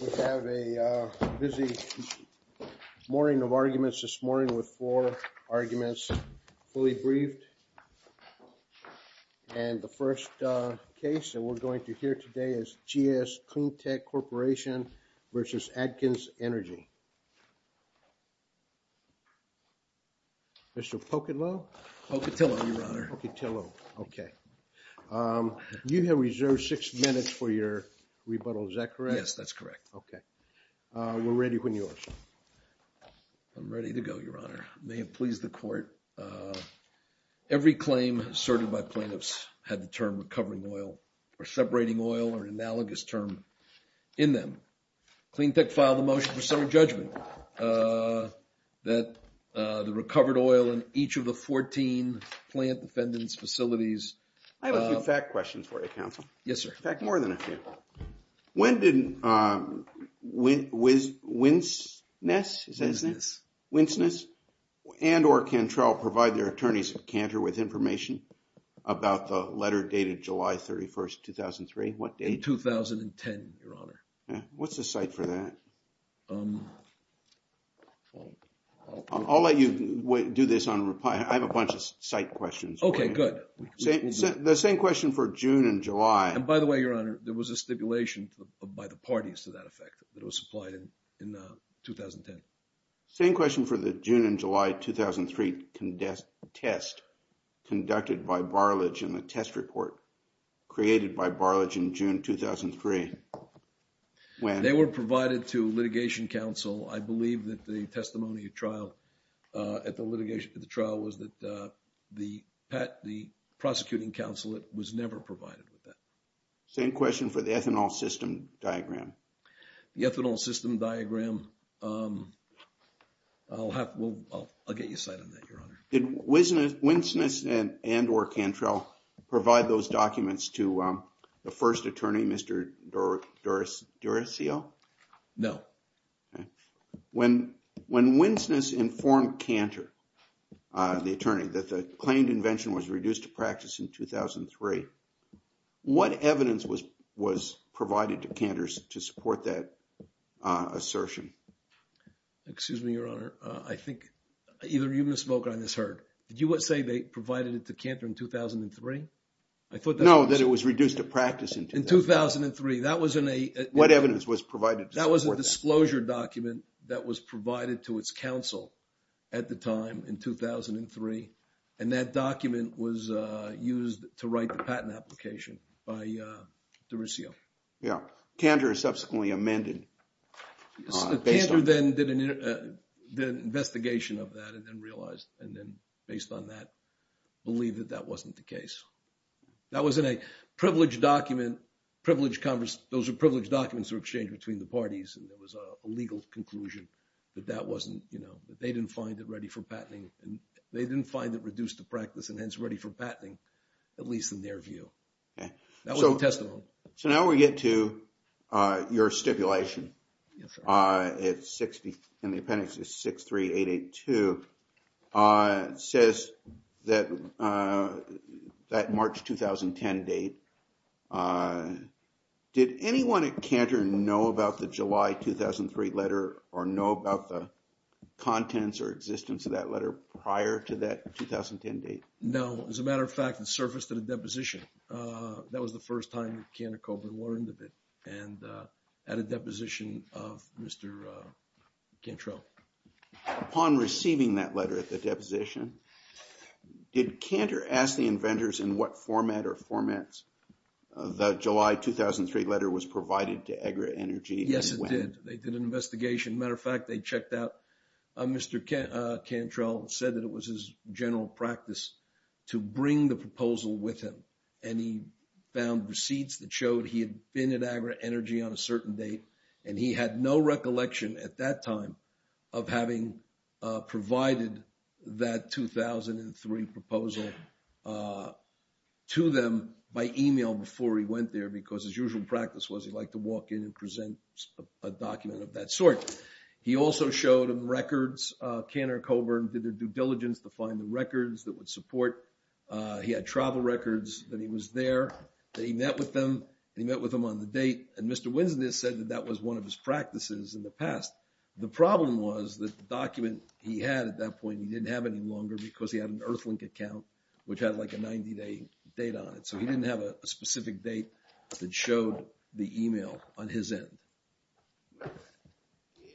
We have a busy morning of arguments this morning with four arguments fully briefed. And the first case that we're going to hear today is G.S. Cleantech Corporation versus Atkins Energy. Mr. Pocatillo, you have reserved six minutes for your rebuttal. Is that correct? Yes, that's correct. OK, we're ready when you are. I'm ready to go, Your Honor. May it please the court. Your Honor, every claim asserted by plaintiffs had the term recovering oil, or separating oil, or an analogous term in them. Cleantech filed a motion for summary judgment that the recovered oil in each of the 14 plant defendants' facilities... I have a few fact questions for you, counsel. Yes, sir. In fact, more than a few. When did Winsness and or Cantrell provide their attorneys at Cantor with information about the letter dated July 31st, 2003? What date? In 2010, Your Honor. What's the site for that? I'll let you do this on reply. I have a bunch of site questions. OK, good. The same question for June and July. And by the way, Your Honor, there was a stipulation by the parties to that effect that was supplied in 2010. Same question for the June and July 2003 test conducted by Barlage in the test report created by Barlage in June 2003. When? They were provided to litigation counsel. I believe that the testimony of trial at the litigation trial was that the prosecuting counsel was never provided with that. Same question for the ethanol system diagram. The ethanol system diagram, I'll get you a site on that, Your Honor. Did Winsness and or Cantrell provide those documents to the first attorney, Mr. Duracell? No. When Winsness informed Cantor, the attorney, that the claimed invention was reduced to practice in 2003, what evidence was provided to Cantor to support that assertion? Excuse me, Your Honor, I think either you misspoke or I misheard. Did you say they provided it to Cantor in 2003? No, that it was reduced to practice in 2003. What evidence was provided to support that? That was a disclosure document that was provided to its counsel at the time in 2003. And that document was used to write the patent application by Duracell. Yeah. Cantor subsequently amended based on that. Cantor then did an investigation of that and then realized and then based on that, believed that that wasn't the case. That was in a privileged document, privileged, those were privileged documents were exchanged between the parties. And there was a legal conclusion that that wasn't, you know, that they didn't find it ready for patenting. And they didn't find it reduced to practice and hence ready for patenting, at least in their view. That was the testimony. So now we get to your stipulation. Yes, sir. It's 60, and the appendix is 63882, says that March 2010 date. Did anyone at Cantor know about the July 2003 letter or know about the contents or existence of that letter prior to that 2010 date? No, as a matter of fact, it surfaced in a deposition. That was the first time Cantor Coburn learned of it and at a deposition of Mr. Cantrell. Upon receiving that letter at the deposition, did Cantor ask the inventors in what format or formats the July 2003 letter was provided to AgriEnergy? Yes, it did. They did an investigation. Matter of fact, they checked out Mr. Cantrell and said that it was his general practice to bring the proposal with him. And he found receipts that showed he had been at AgriEnergy on a certain date, and he had no recollection at that time of having provided that 2003 proposal to them by email before he went there because his usual practice was he'd like to walk in and present a document of that sort. He also showed him records. Cantor Coburn did their due diligence to find the records that would support. He had travel records that he was there, that he met with them, that he met with them on the date. And Mr. Winsnet said that that was one of his practices in the past. The problem was that the document he had at that point, he didn't have any longer because he had an Earthlink account, which had like a 90-day date on it. So he didn't have a specific date that showed the email on his end.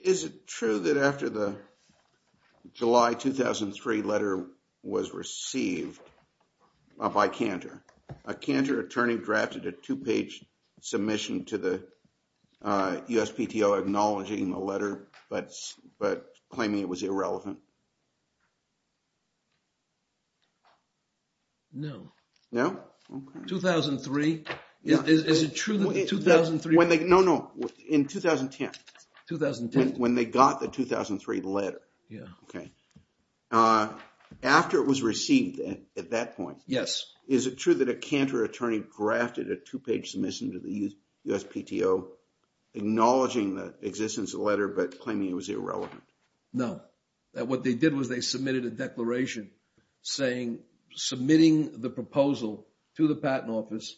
Is it true that after the July 2003 letter was received by Cantor, a Cantor attorney drafted a two-page submission to the USPTO acknowledging the letter, but claiming it was irrelevant? No. No? 2003. Is it true that 2003? No, no, in 2010. 2010. When they got the 2003 letter. Yeah. Okay. After it was received at that point. Yes. Is it true that a Cantor attorney drafted a two-page submission to the USPTO acknowledging the existence of the letter, but claiming it was irrelevant? No. That what they did was they submitted a declaration saying, submitting the proposal to the patent office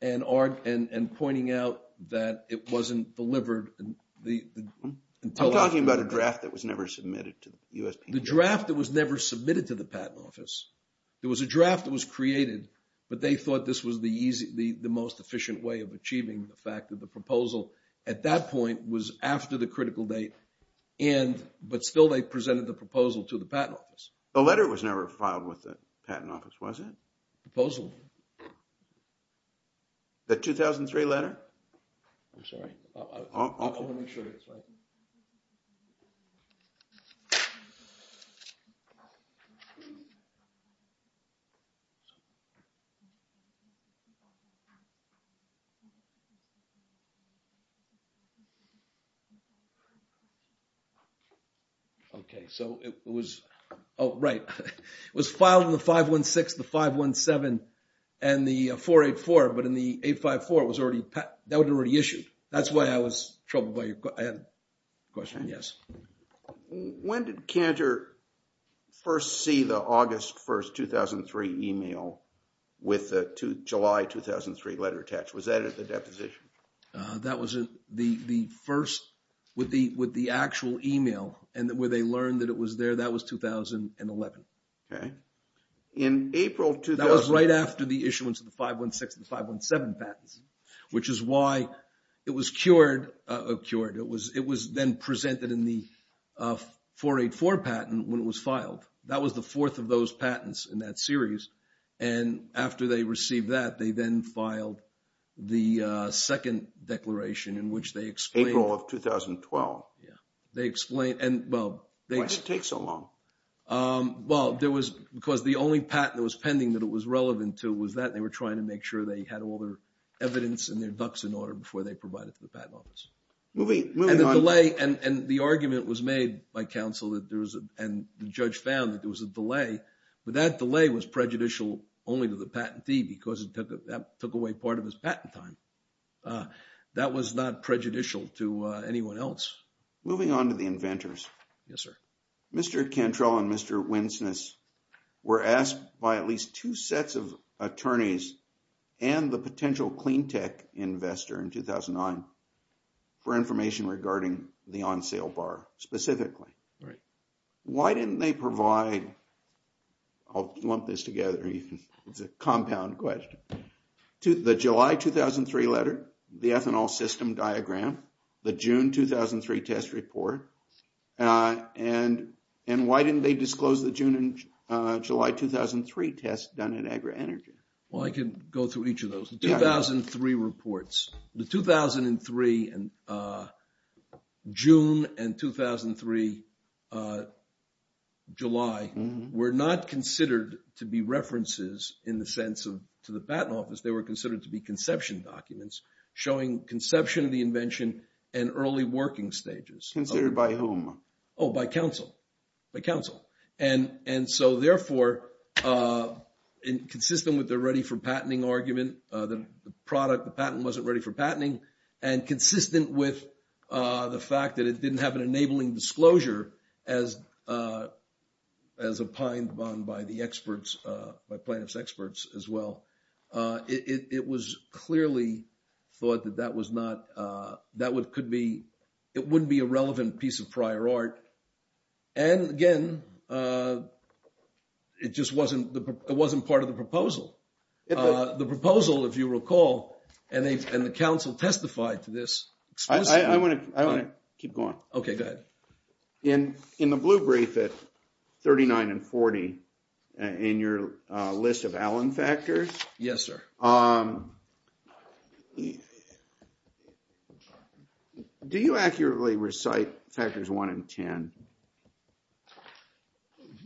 and pointing out that it wasn't delivered. I'm talking about a draft that was never submitted to the USPTO. The draft that was never submitted to the patent office. There was a draft that was created, but they thought this was the most efficient way of achieving the fact that the proposal at that point was after the critical date, but still they presented the proposal to the patent office. The letter was never filed with the patent office, was it? Proposal. The 2003 letter. I'm sorry. Okay. So it was, oh, right. It was filed in the 516, the 517, and the 484, but in the 854, that was already issued. That's why I was troubled by your question. Yes. When did Cantor first see the August 1st, 2003 email with the July 2003 letter attached? Was that at the deposition? That was the first, with the actual email and where they learned that it was there, that was 2011. Okay. In April, that was right after the issuance of the 516 and the 517 patents, which is why it was cured, it was then presented in the 484 patent when it was filed. That was the fourth of those patents in that series, and after they received that, they then filed the second declaration in which they explained- April of 2012. Yeah. They explained, and well- Why did it take so long? Well, there was, because the only patent that was pending that it was relevant to was that they were trying to make sure they had all their evidence and their ducks in order before they provide it to the patent office. Moving on- And the delay, and the argument was made by counsel that there was, and the judge found that there was a delay, but that delay was prejudicial only to the patentee because that took away part of his patent time. That was not prejudicial to anyone else. Moving on to the inventors. Yes, sir. Mr. Cantrell and Mr. Winsness were asked by at least two sets of attorneys and the potential cleantech investor in 2009 for information regarding the on-sale bar specifically. Right. Why didn't they provide- I'll lump this together, it's a compound question- the July 2003 letter, the ethanol system diagram, the June 2003 test report, and why didn't they disclose the June and July 2003 test done in AgriEnergy? Well, I can go through each of those. The 2003 reports, the 2003, June and 2003, July, were not considered to be references in the sense of, to the patent office, they were considered to be conception documents showing conception of the invention and early working stages. Considered by whom? Oh, by counsel, by counsel. And so, therefore, in consistent with the ready for patenting argument, the product, the patent wasn't ready for patenting, and consistent with the fact that it didn't have an enabling disclosure as opined upon by the experts, by plaintiff's experts as well. It was clearly thought that that could be, it wouldn't be a relevant piece of prior art. And again, it just wasn't part of the proposal. The proposal, if you recall, and the counsel testified to this. I want to keep going. Okay, go ahead. In the blue brief at 39 and 40, in your list of Allen factors. Yes, sir. Do you accurately recite factors one and 10?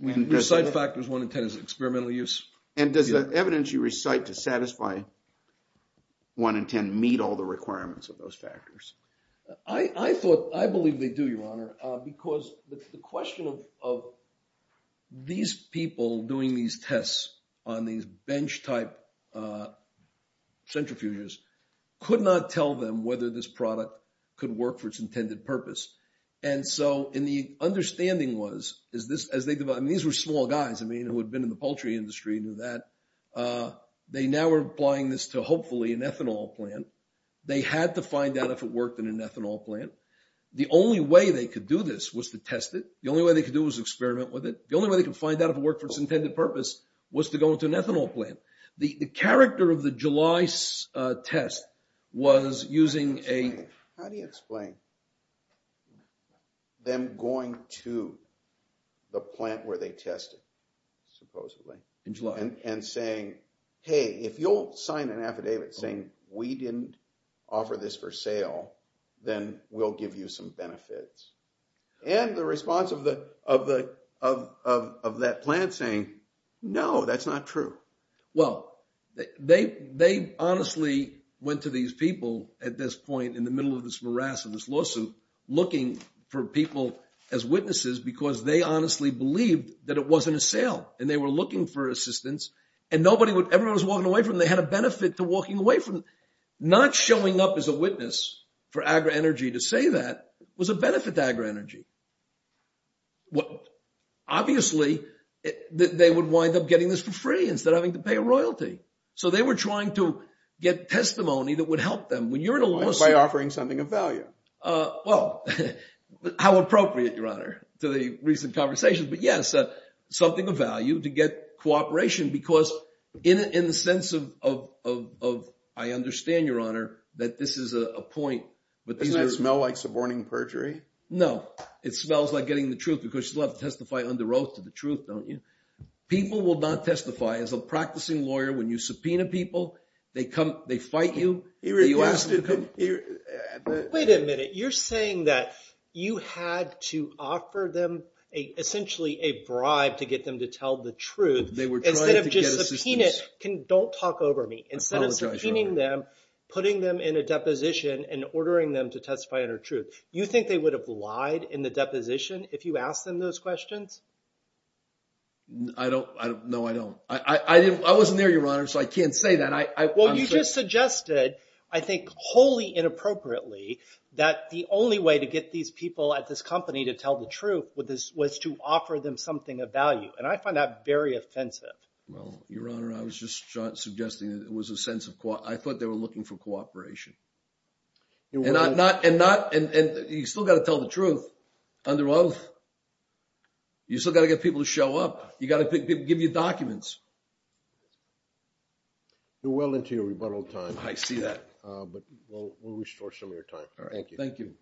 Recite factors one and 10 as experimental use? And does the evidence you recite to satisfy one and 10 meet all the requirements of those factors? I thought, I believe they do, Your Honor, because the question of these people doing these tests on these bench type centrifuges could not tell them whether this product could work for its intended purpose. And so, and the understanding was, is this, as they divide, and these were small guys, I mean, who had been in the poultry industry, knew that. They now are applying this to hopefully an ethanol plant. They had to find out if it worked in an ethanol plant. The only way they could do this was to test it. The only way they could do was experiment with it. The only way they could find out if it worked for its intended purpose was to go into an ethanol plant. The character of the July test was using a- How do you explain them going to the plant where they tested, supposedly? In July. And saying, hey, if you'll sign an affidavit saying we didn't offer this for sale, then we'll give you some benefits. And the response of that plant saying, no, that's not true. Well, they honestly went to these people at this point in the middle of this morass of this lawsuit looking for people as witnesses because they honestly believed that it wasn't a sale and they were looking for assistance and nobody would- Everyone was walking away from it. They had a benefit to walking away from it. Not showing up as a witness for AgriEnergy to say that was a benefit to AgriEnergy. Obviously, they would wind up getting this for free instead of having to pay a royalty. So they were trying to get testimony that would help them. When you're in a lawsuit- By offering something of value. Well, how appropriate, Your Honor, to the recent conversations. But yes, something of value to get cooperation. Because in the sense of, I understand, Your Honor, that this is a point. Doesn't it smell like suborning perjury? No. It smells like getting the truth because you love to testify under oath to the truth, don't you? People will not testify. As a practicing lawyer, when you subpoena people, they fight you. Wait a minute. You're saying that you had to offer them essentially a bribe to get them to tell the truth. They were trying to get assistance. Instead of just subpoenaing, don't talk over me. I apologize, Your Honor. Instead of subpoenaing them, putting them in a deposition, and ordering them to testify under truth. You think they would have lied in the deposition if you asked them those questions? No, I don't. I'm sorry. You just suggested, I think wholly inappropriately, that the only way to get these people at this company to tell the truth was to offer them something of value. And I find that very offensive. Well, Your Honor, I was just suggesting that it was a sense of, I thought they were looking for cooperation. You still got to tell the truth under oath. You still got to get people to show up. You got to get people to give you documents. You're well into your rebuttal time. I see that. But we'll restore some of your time. All right. Thank you. Thank you.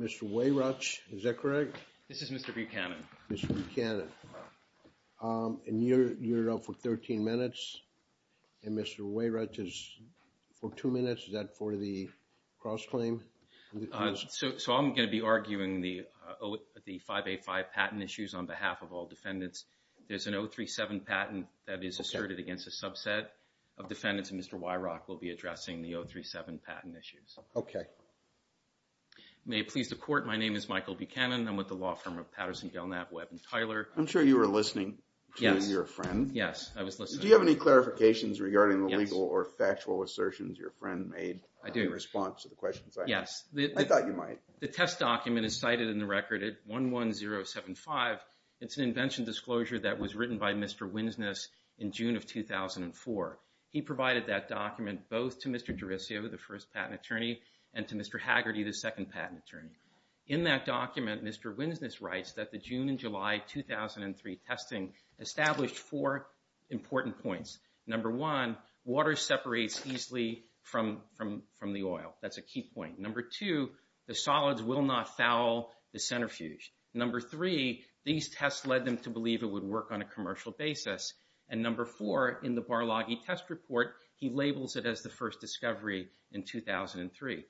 Mr. Weyruch, is that correct? This is Mr. Buchanan. Mr. Buchanan. And you're up for 13 minutes. And Mr. Weyruch is for two minutes. Is that for the cross-claim? So I'm going to be arguing the 585 patent issues on behalf of all defendants. There's an 037 patent that is asserted against a subset of defendants. And Mr. Weyruch will be addressing the 037 patent issues. Okay. May it please the Court, my name is Michael Buchanan. I'm with the law firm of Patterson, Gelnap, Webb & Tyler. I'm sure you were listening to your friend. Yes, I was listening. Do you have any clarifications regarding the legal or factual assertions your friend made? I do. In response to the questions I had. Yes. I thought you might. The test document is cited in the record at 11075. It's an invention disclosure that was written by Mr. Winsness in June of 2004. He provided that document both to Mr. Derisio, the first patent attorney, and to Mr. Haggerty, the second patent attorney. In that document, Mr. Winsness writes that the June and July 2003 testing established four important points. Number one, water separates easily from the oil. That's a key point. Number two, the solids will not foul the centrifuge. Number three, these tests led them to believe it would work on a commercial basis. And number four, in the Barloggi test report, he labels it as the first discovery in 2003.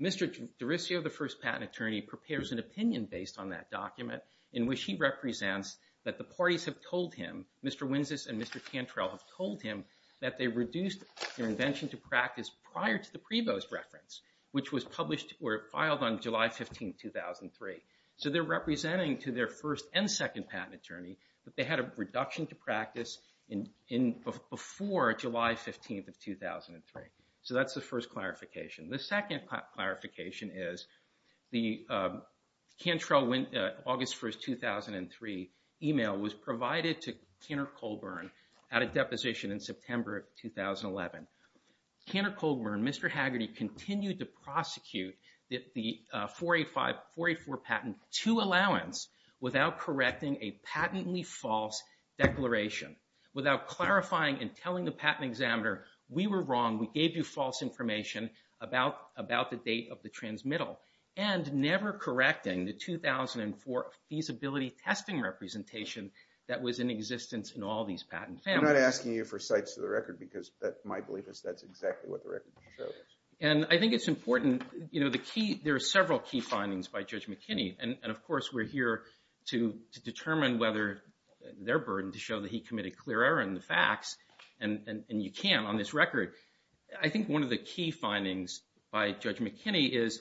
Mr. Derisio, the first patent attorney, prepares an opinion based on that document in which he represents that the parties have told him, Mr. Winsness and Mr. Cantrell have told him that they reduced their invention to practice prior to the Prevo's reference, which was published or filed on July 15, 2003. So they're representing to their first and second patent attorney that they had a reduction to practice before July 15, 2003. So that's the first clarification. The second clarification is the Cantrell, August 1, 2003, email was provided to Cantor Colburn at a deposition in September of 2011. Cantor Colburn, Mr. Haggerty, continued to prosecute the 484 patent to allowance without correcting a patently false declaration. Without clarifying and telling the patent examiner, we were wrong, we gave you false information about the date of the transmittal. And never correcting the 2004 feasibility testing representation that was in existence in all these patent families. I'm not asking you for cites to the record, because my belief is that's exactly what the record shows. And I think it's important, you know, the key, there are several key findings by Judge McKinney. And of course, we're here to determine whether their burden to show that he committed clear error in the facts, and you can't on this record. I think one of the key findings by Judge McKinney is,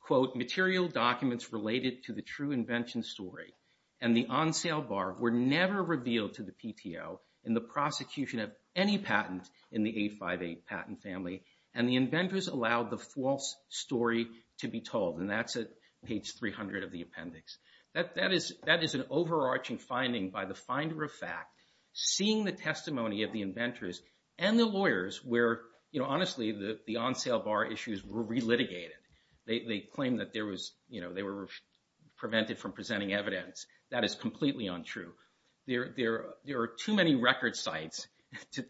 quote, material documents related to the true invention story and the on sale bar were never revealed to the PTO in the prosecution of any patent in the 858 patent family. And the inventors allowed the false story to be told. And that's at page 300 of the appendix. That is an overarching finding by the finder of fact, seeing the testimony of the inventors and the lawyers where, you know, honestly, the on sale bar issues were re-litigated. They claimed that there was, you know, they were prevented from presenting evidence. That is completely untrue. There are too many record sites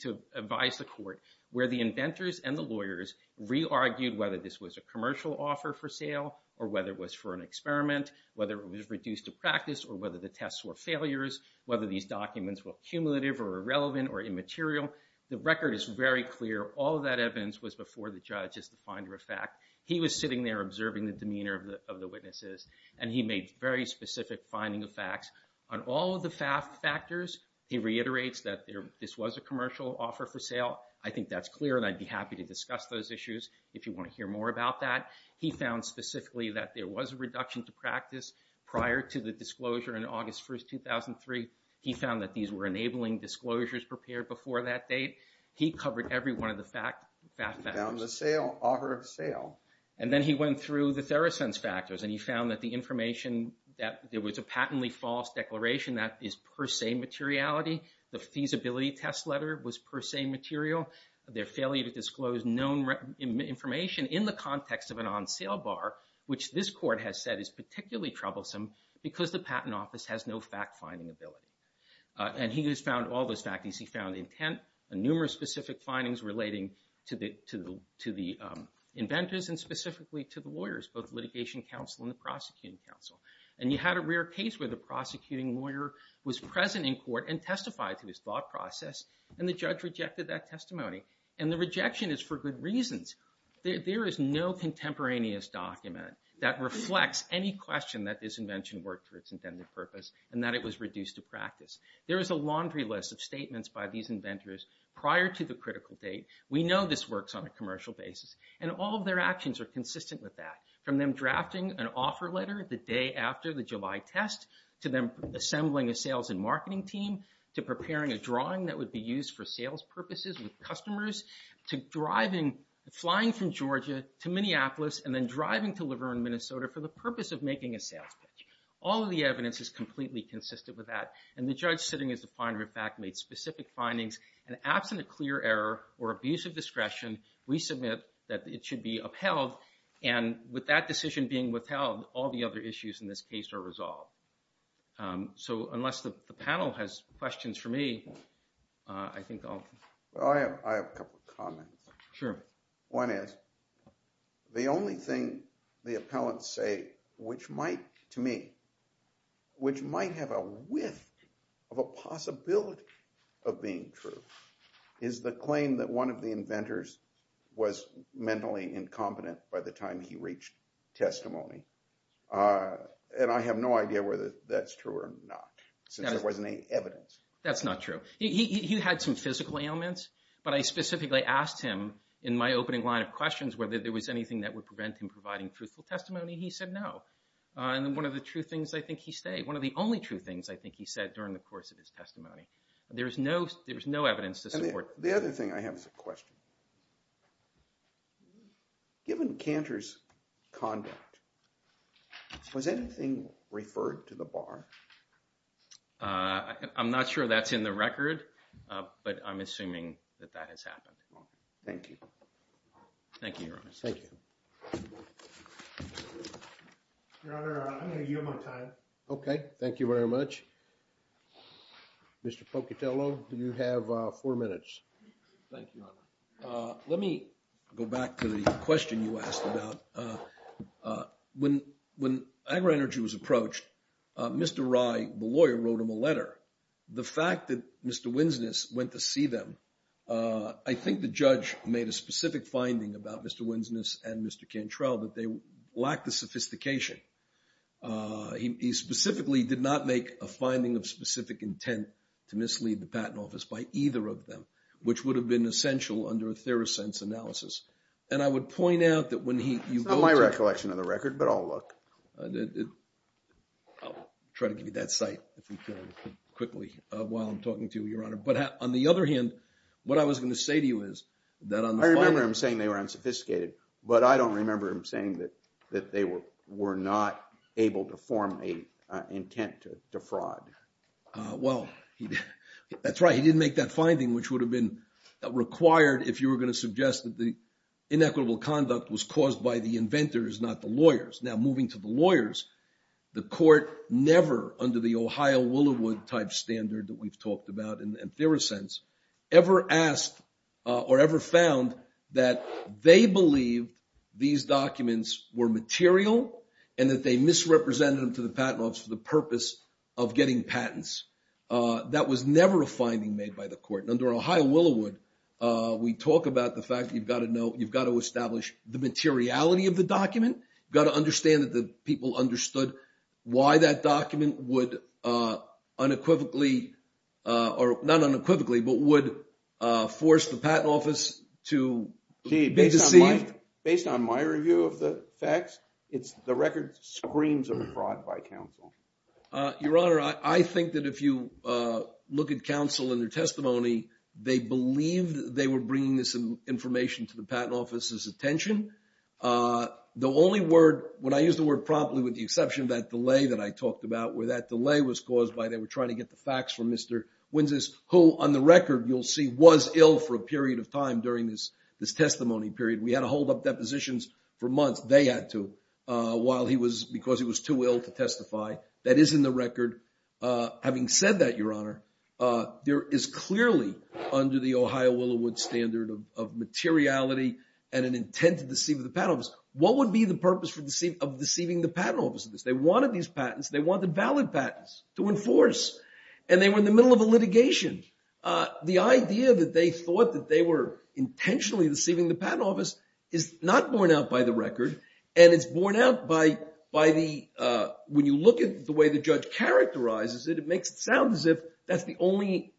to advise the court where the inventors and the lawyers re-argued whether this was a commercial offer for sale, or whether it was for an experiment, whether it was reduced to practice, or whether the tests were failures, whether these documents were cumulative or irrelevant or immaterial. The record is very clear. All of that evidence was before the judge as the finder of fact. He was sitting there observing the demeanor of the witnesses, and he made very specific finding of facts. On all of the fact factors, he reiterates that this was a commercial offer for sale. I think that's clear, and I'd be happy to discuss those issues if you want to hear more about that. He found specifically that there was a reduction to practice prior to the disclosure in August 1st, 2003. He found that these were enabling disclosures prepared before that date. He covered every one of the fact factors. He found the sale, offer of sale. And then he went through the Theracense factors, and he found that the information that there was a patently false declaration that is per se materiality. The feasibility test letter was per se material. Their failure to disclose known information in the context of an on-sale bar, which this court has said is particularly troublesome because the Patent Office has no fact-finding ability. And he has found all those factings. He found intent and numerous specific findings relating to the inventors and specifically to the lawyers, both Litigation Counsel and the Prosecuting Counsel. And you had a rare case where the prosecuting lawyer was present in court and testified to his thought process, and the judge rejected that testimony. And the rejection is for good reasons. There is no contemporaneous document that reflects any question that this invention worked for its intended purpose and that it was reduced to practice. There is a laundry list of statements by these inventors prior to the critical date. We know this works on a commercial basis. And all of their actions are consistent with that, from them drafting an offer letter the day after the July test, to them assembling a sales and marketing team, to preparing a drawing that would be used for sales purposes with customers, to driving, flying from Georgia to Minneapolis, and then driving to Laverne, Minnesota for the purpose of making a sales pitch. All of the evidence is completely consistent with that. And the judge sitting as the finder of fact made specific findings. And absent a clear error or abuse of discretion, we submit that it should be upheld. And with that decision being withheld, all the other issues in this case are resolved. So unless the panel has questions for me, I think I'll... Well, I have a couple of comments. Sure. One is, the only thing the appellants say, which might, to me, which might have a width of a possibility of being true, is the claim that one of the inventors was mentally incompetent by the time he reached testimony. And I have no idea whether that's true or not, since there wasn't any evidence. That's not true. He had some physical ailments, but I specifically asked him, in my opening line of questions, whether there was anything that would prevent him providing truthful testimony. He said no. And one of the true things I think he said, one of the only true things I think he said during the course of his testimony, there was no evidence to support that. The other thing I have is a question. Given Cantor's conduct, was anything referred to the bar? I'm not sure that's in the record, but I'm assuming that that has happened. Thank you. Thank you, Your Honor. Thank you. Your Honor, I'm going to yield my time. Okay, thank you very much. Mr. Pocatello, you have four minutes. Thank you, Your Honor. Let me go back to the question you asked about. When AgriEnergy was approached, Mr. Rye, the lawyer, wrote him a letter. The fact that Mr. Winsness went to see them, I think the judge made a specific finding about Mr. Winsness and Mr. Cantrell, that they lacked the sophistication. Uh, he specifically did not make a finding of specific intent to mislead the patent office by either of them, which would have been essential under a Therosense analysis. And I would point out that when he... It's not my recollection of the record, but I'll look. I'll try to give you that sight, if we can, quickly, while I'm talking to you, Your Honor. But on the other hand, what I was going to say to you is that... I remember him saying they were unsophisticated, but I don't remember him saying that that they were not able to form an intent to fraud. Well, that's right. He didn't make that finding, which would have been required if you were going to suggest that the inequitable conduct was caused by the inventors, not the lawyers. Now, moving to the lawyers, the court never, under the Ohio-Willowood type standard that we've talked about in Therosense, ever asked or ever found that they believed these documents were material and that they misrepresented them to the patent office for the purpose of getting patents. That was never a finding made by the court. Under Ohio-Willowood, we talk about the fact that you've got to know, you've got to establish the materiality of the document. You've got to understand that the people understood why that document would unequivocally, or not unequivocally, but would force the patent office to- Gee, based on my review of the facts, the record screams of fraud by counsel. Your Honor, I think that if you look at counsel and their testimony, they believed they were bringing this information to the patent office's attention. The only word, when I use the word promptly with the exception of that delay that I talked about where that delay was caused by they were trying to get the facts from Mr. Winses, who on the record, you'll see was ill for a period of time during this testimony period. We had to hold up depositions for months. They had to while he was, because he was too ill to testify. That is in the record. Having said that, Your Honor, there is clearly, under the Ohio-Willowood standard of materiality and an intent to deceive the patent office, what would be the purpose of deceiving the patent office of this? They wanted these patents. They wanted valid patents to enforce. And they were in the middle of a litigation. The idea that they thought that they were intentionally deceiving the patent office is not borne out by the record. And it's borne out by the, when you look at the way the judge characterizes it, it makes it sound as if that's the only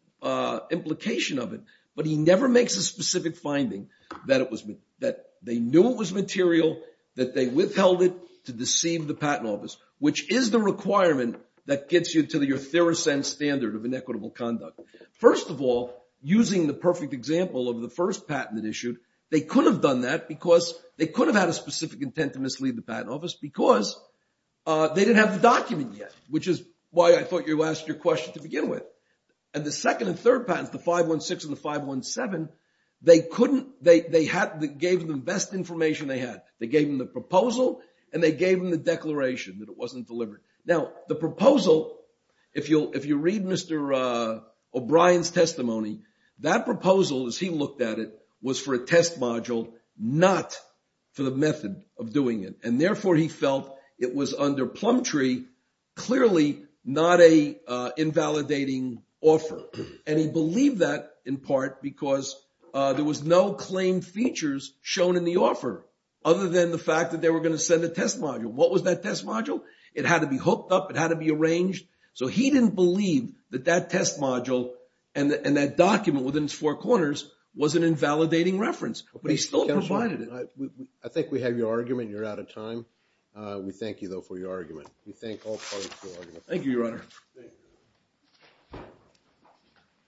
implication of it. But he never makes a specific finding that they knew it was material, that they withheld it to deceive the patent office, which is the requirement that gets you to your theory sense standard of inequitable conduct. First of all, using the perfect example of the first patent that issued, they could have done that because they could have had a specific intent to mislead the patent office because they didn't have the document yet, which is why I thought you asked your question to begin with. And the second and third patents, the 516 and the 517, they couldn't, they gave them the best information they had. They gave them the proposal and they gave them the declaration that it wasn't delivered. Now, the proposal, if you read Mr. O'Brien's testimony, that proposal as he looked at it was for a test module, not for the method of doing it. And therefore he felt it was under plum tree, clearly not a invalidating offer. And he believed that in part because there was no claim features shown in the offer, other than the fact that they were going to send a test module. What was that test module? It had to be hooked up. It had to be arranged. So he didn't believe that that test module and that document within its four corners was an invalidating reference, but he still provided it. I think we have your argument. You're out of time. We thank you though for your argument. We thank all parties for your argument. Thank you, Your Honor.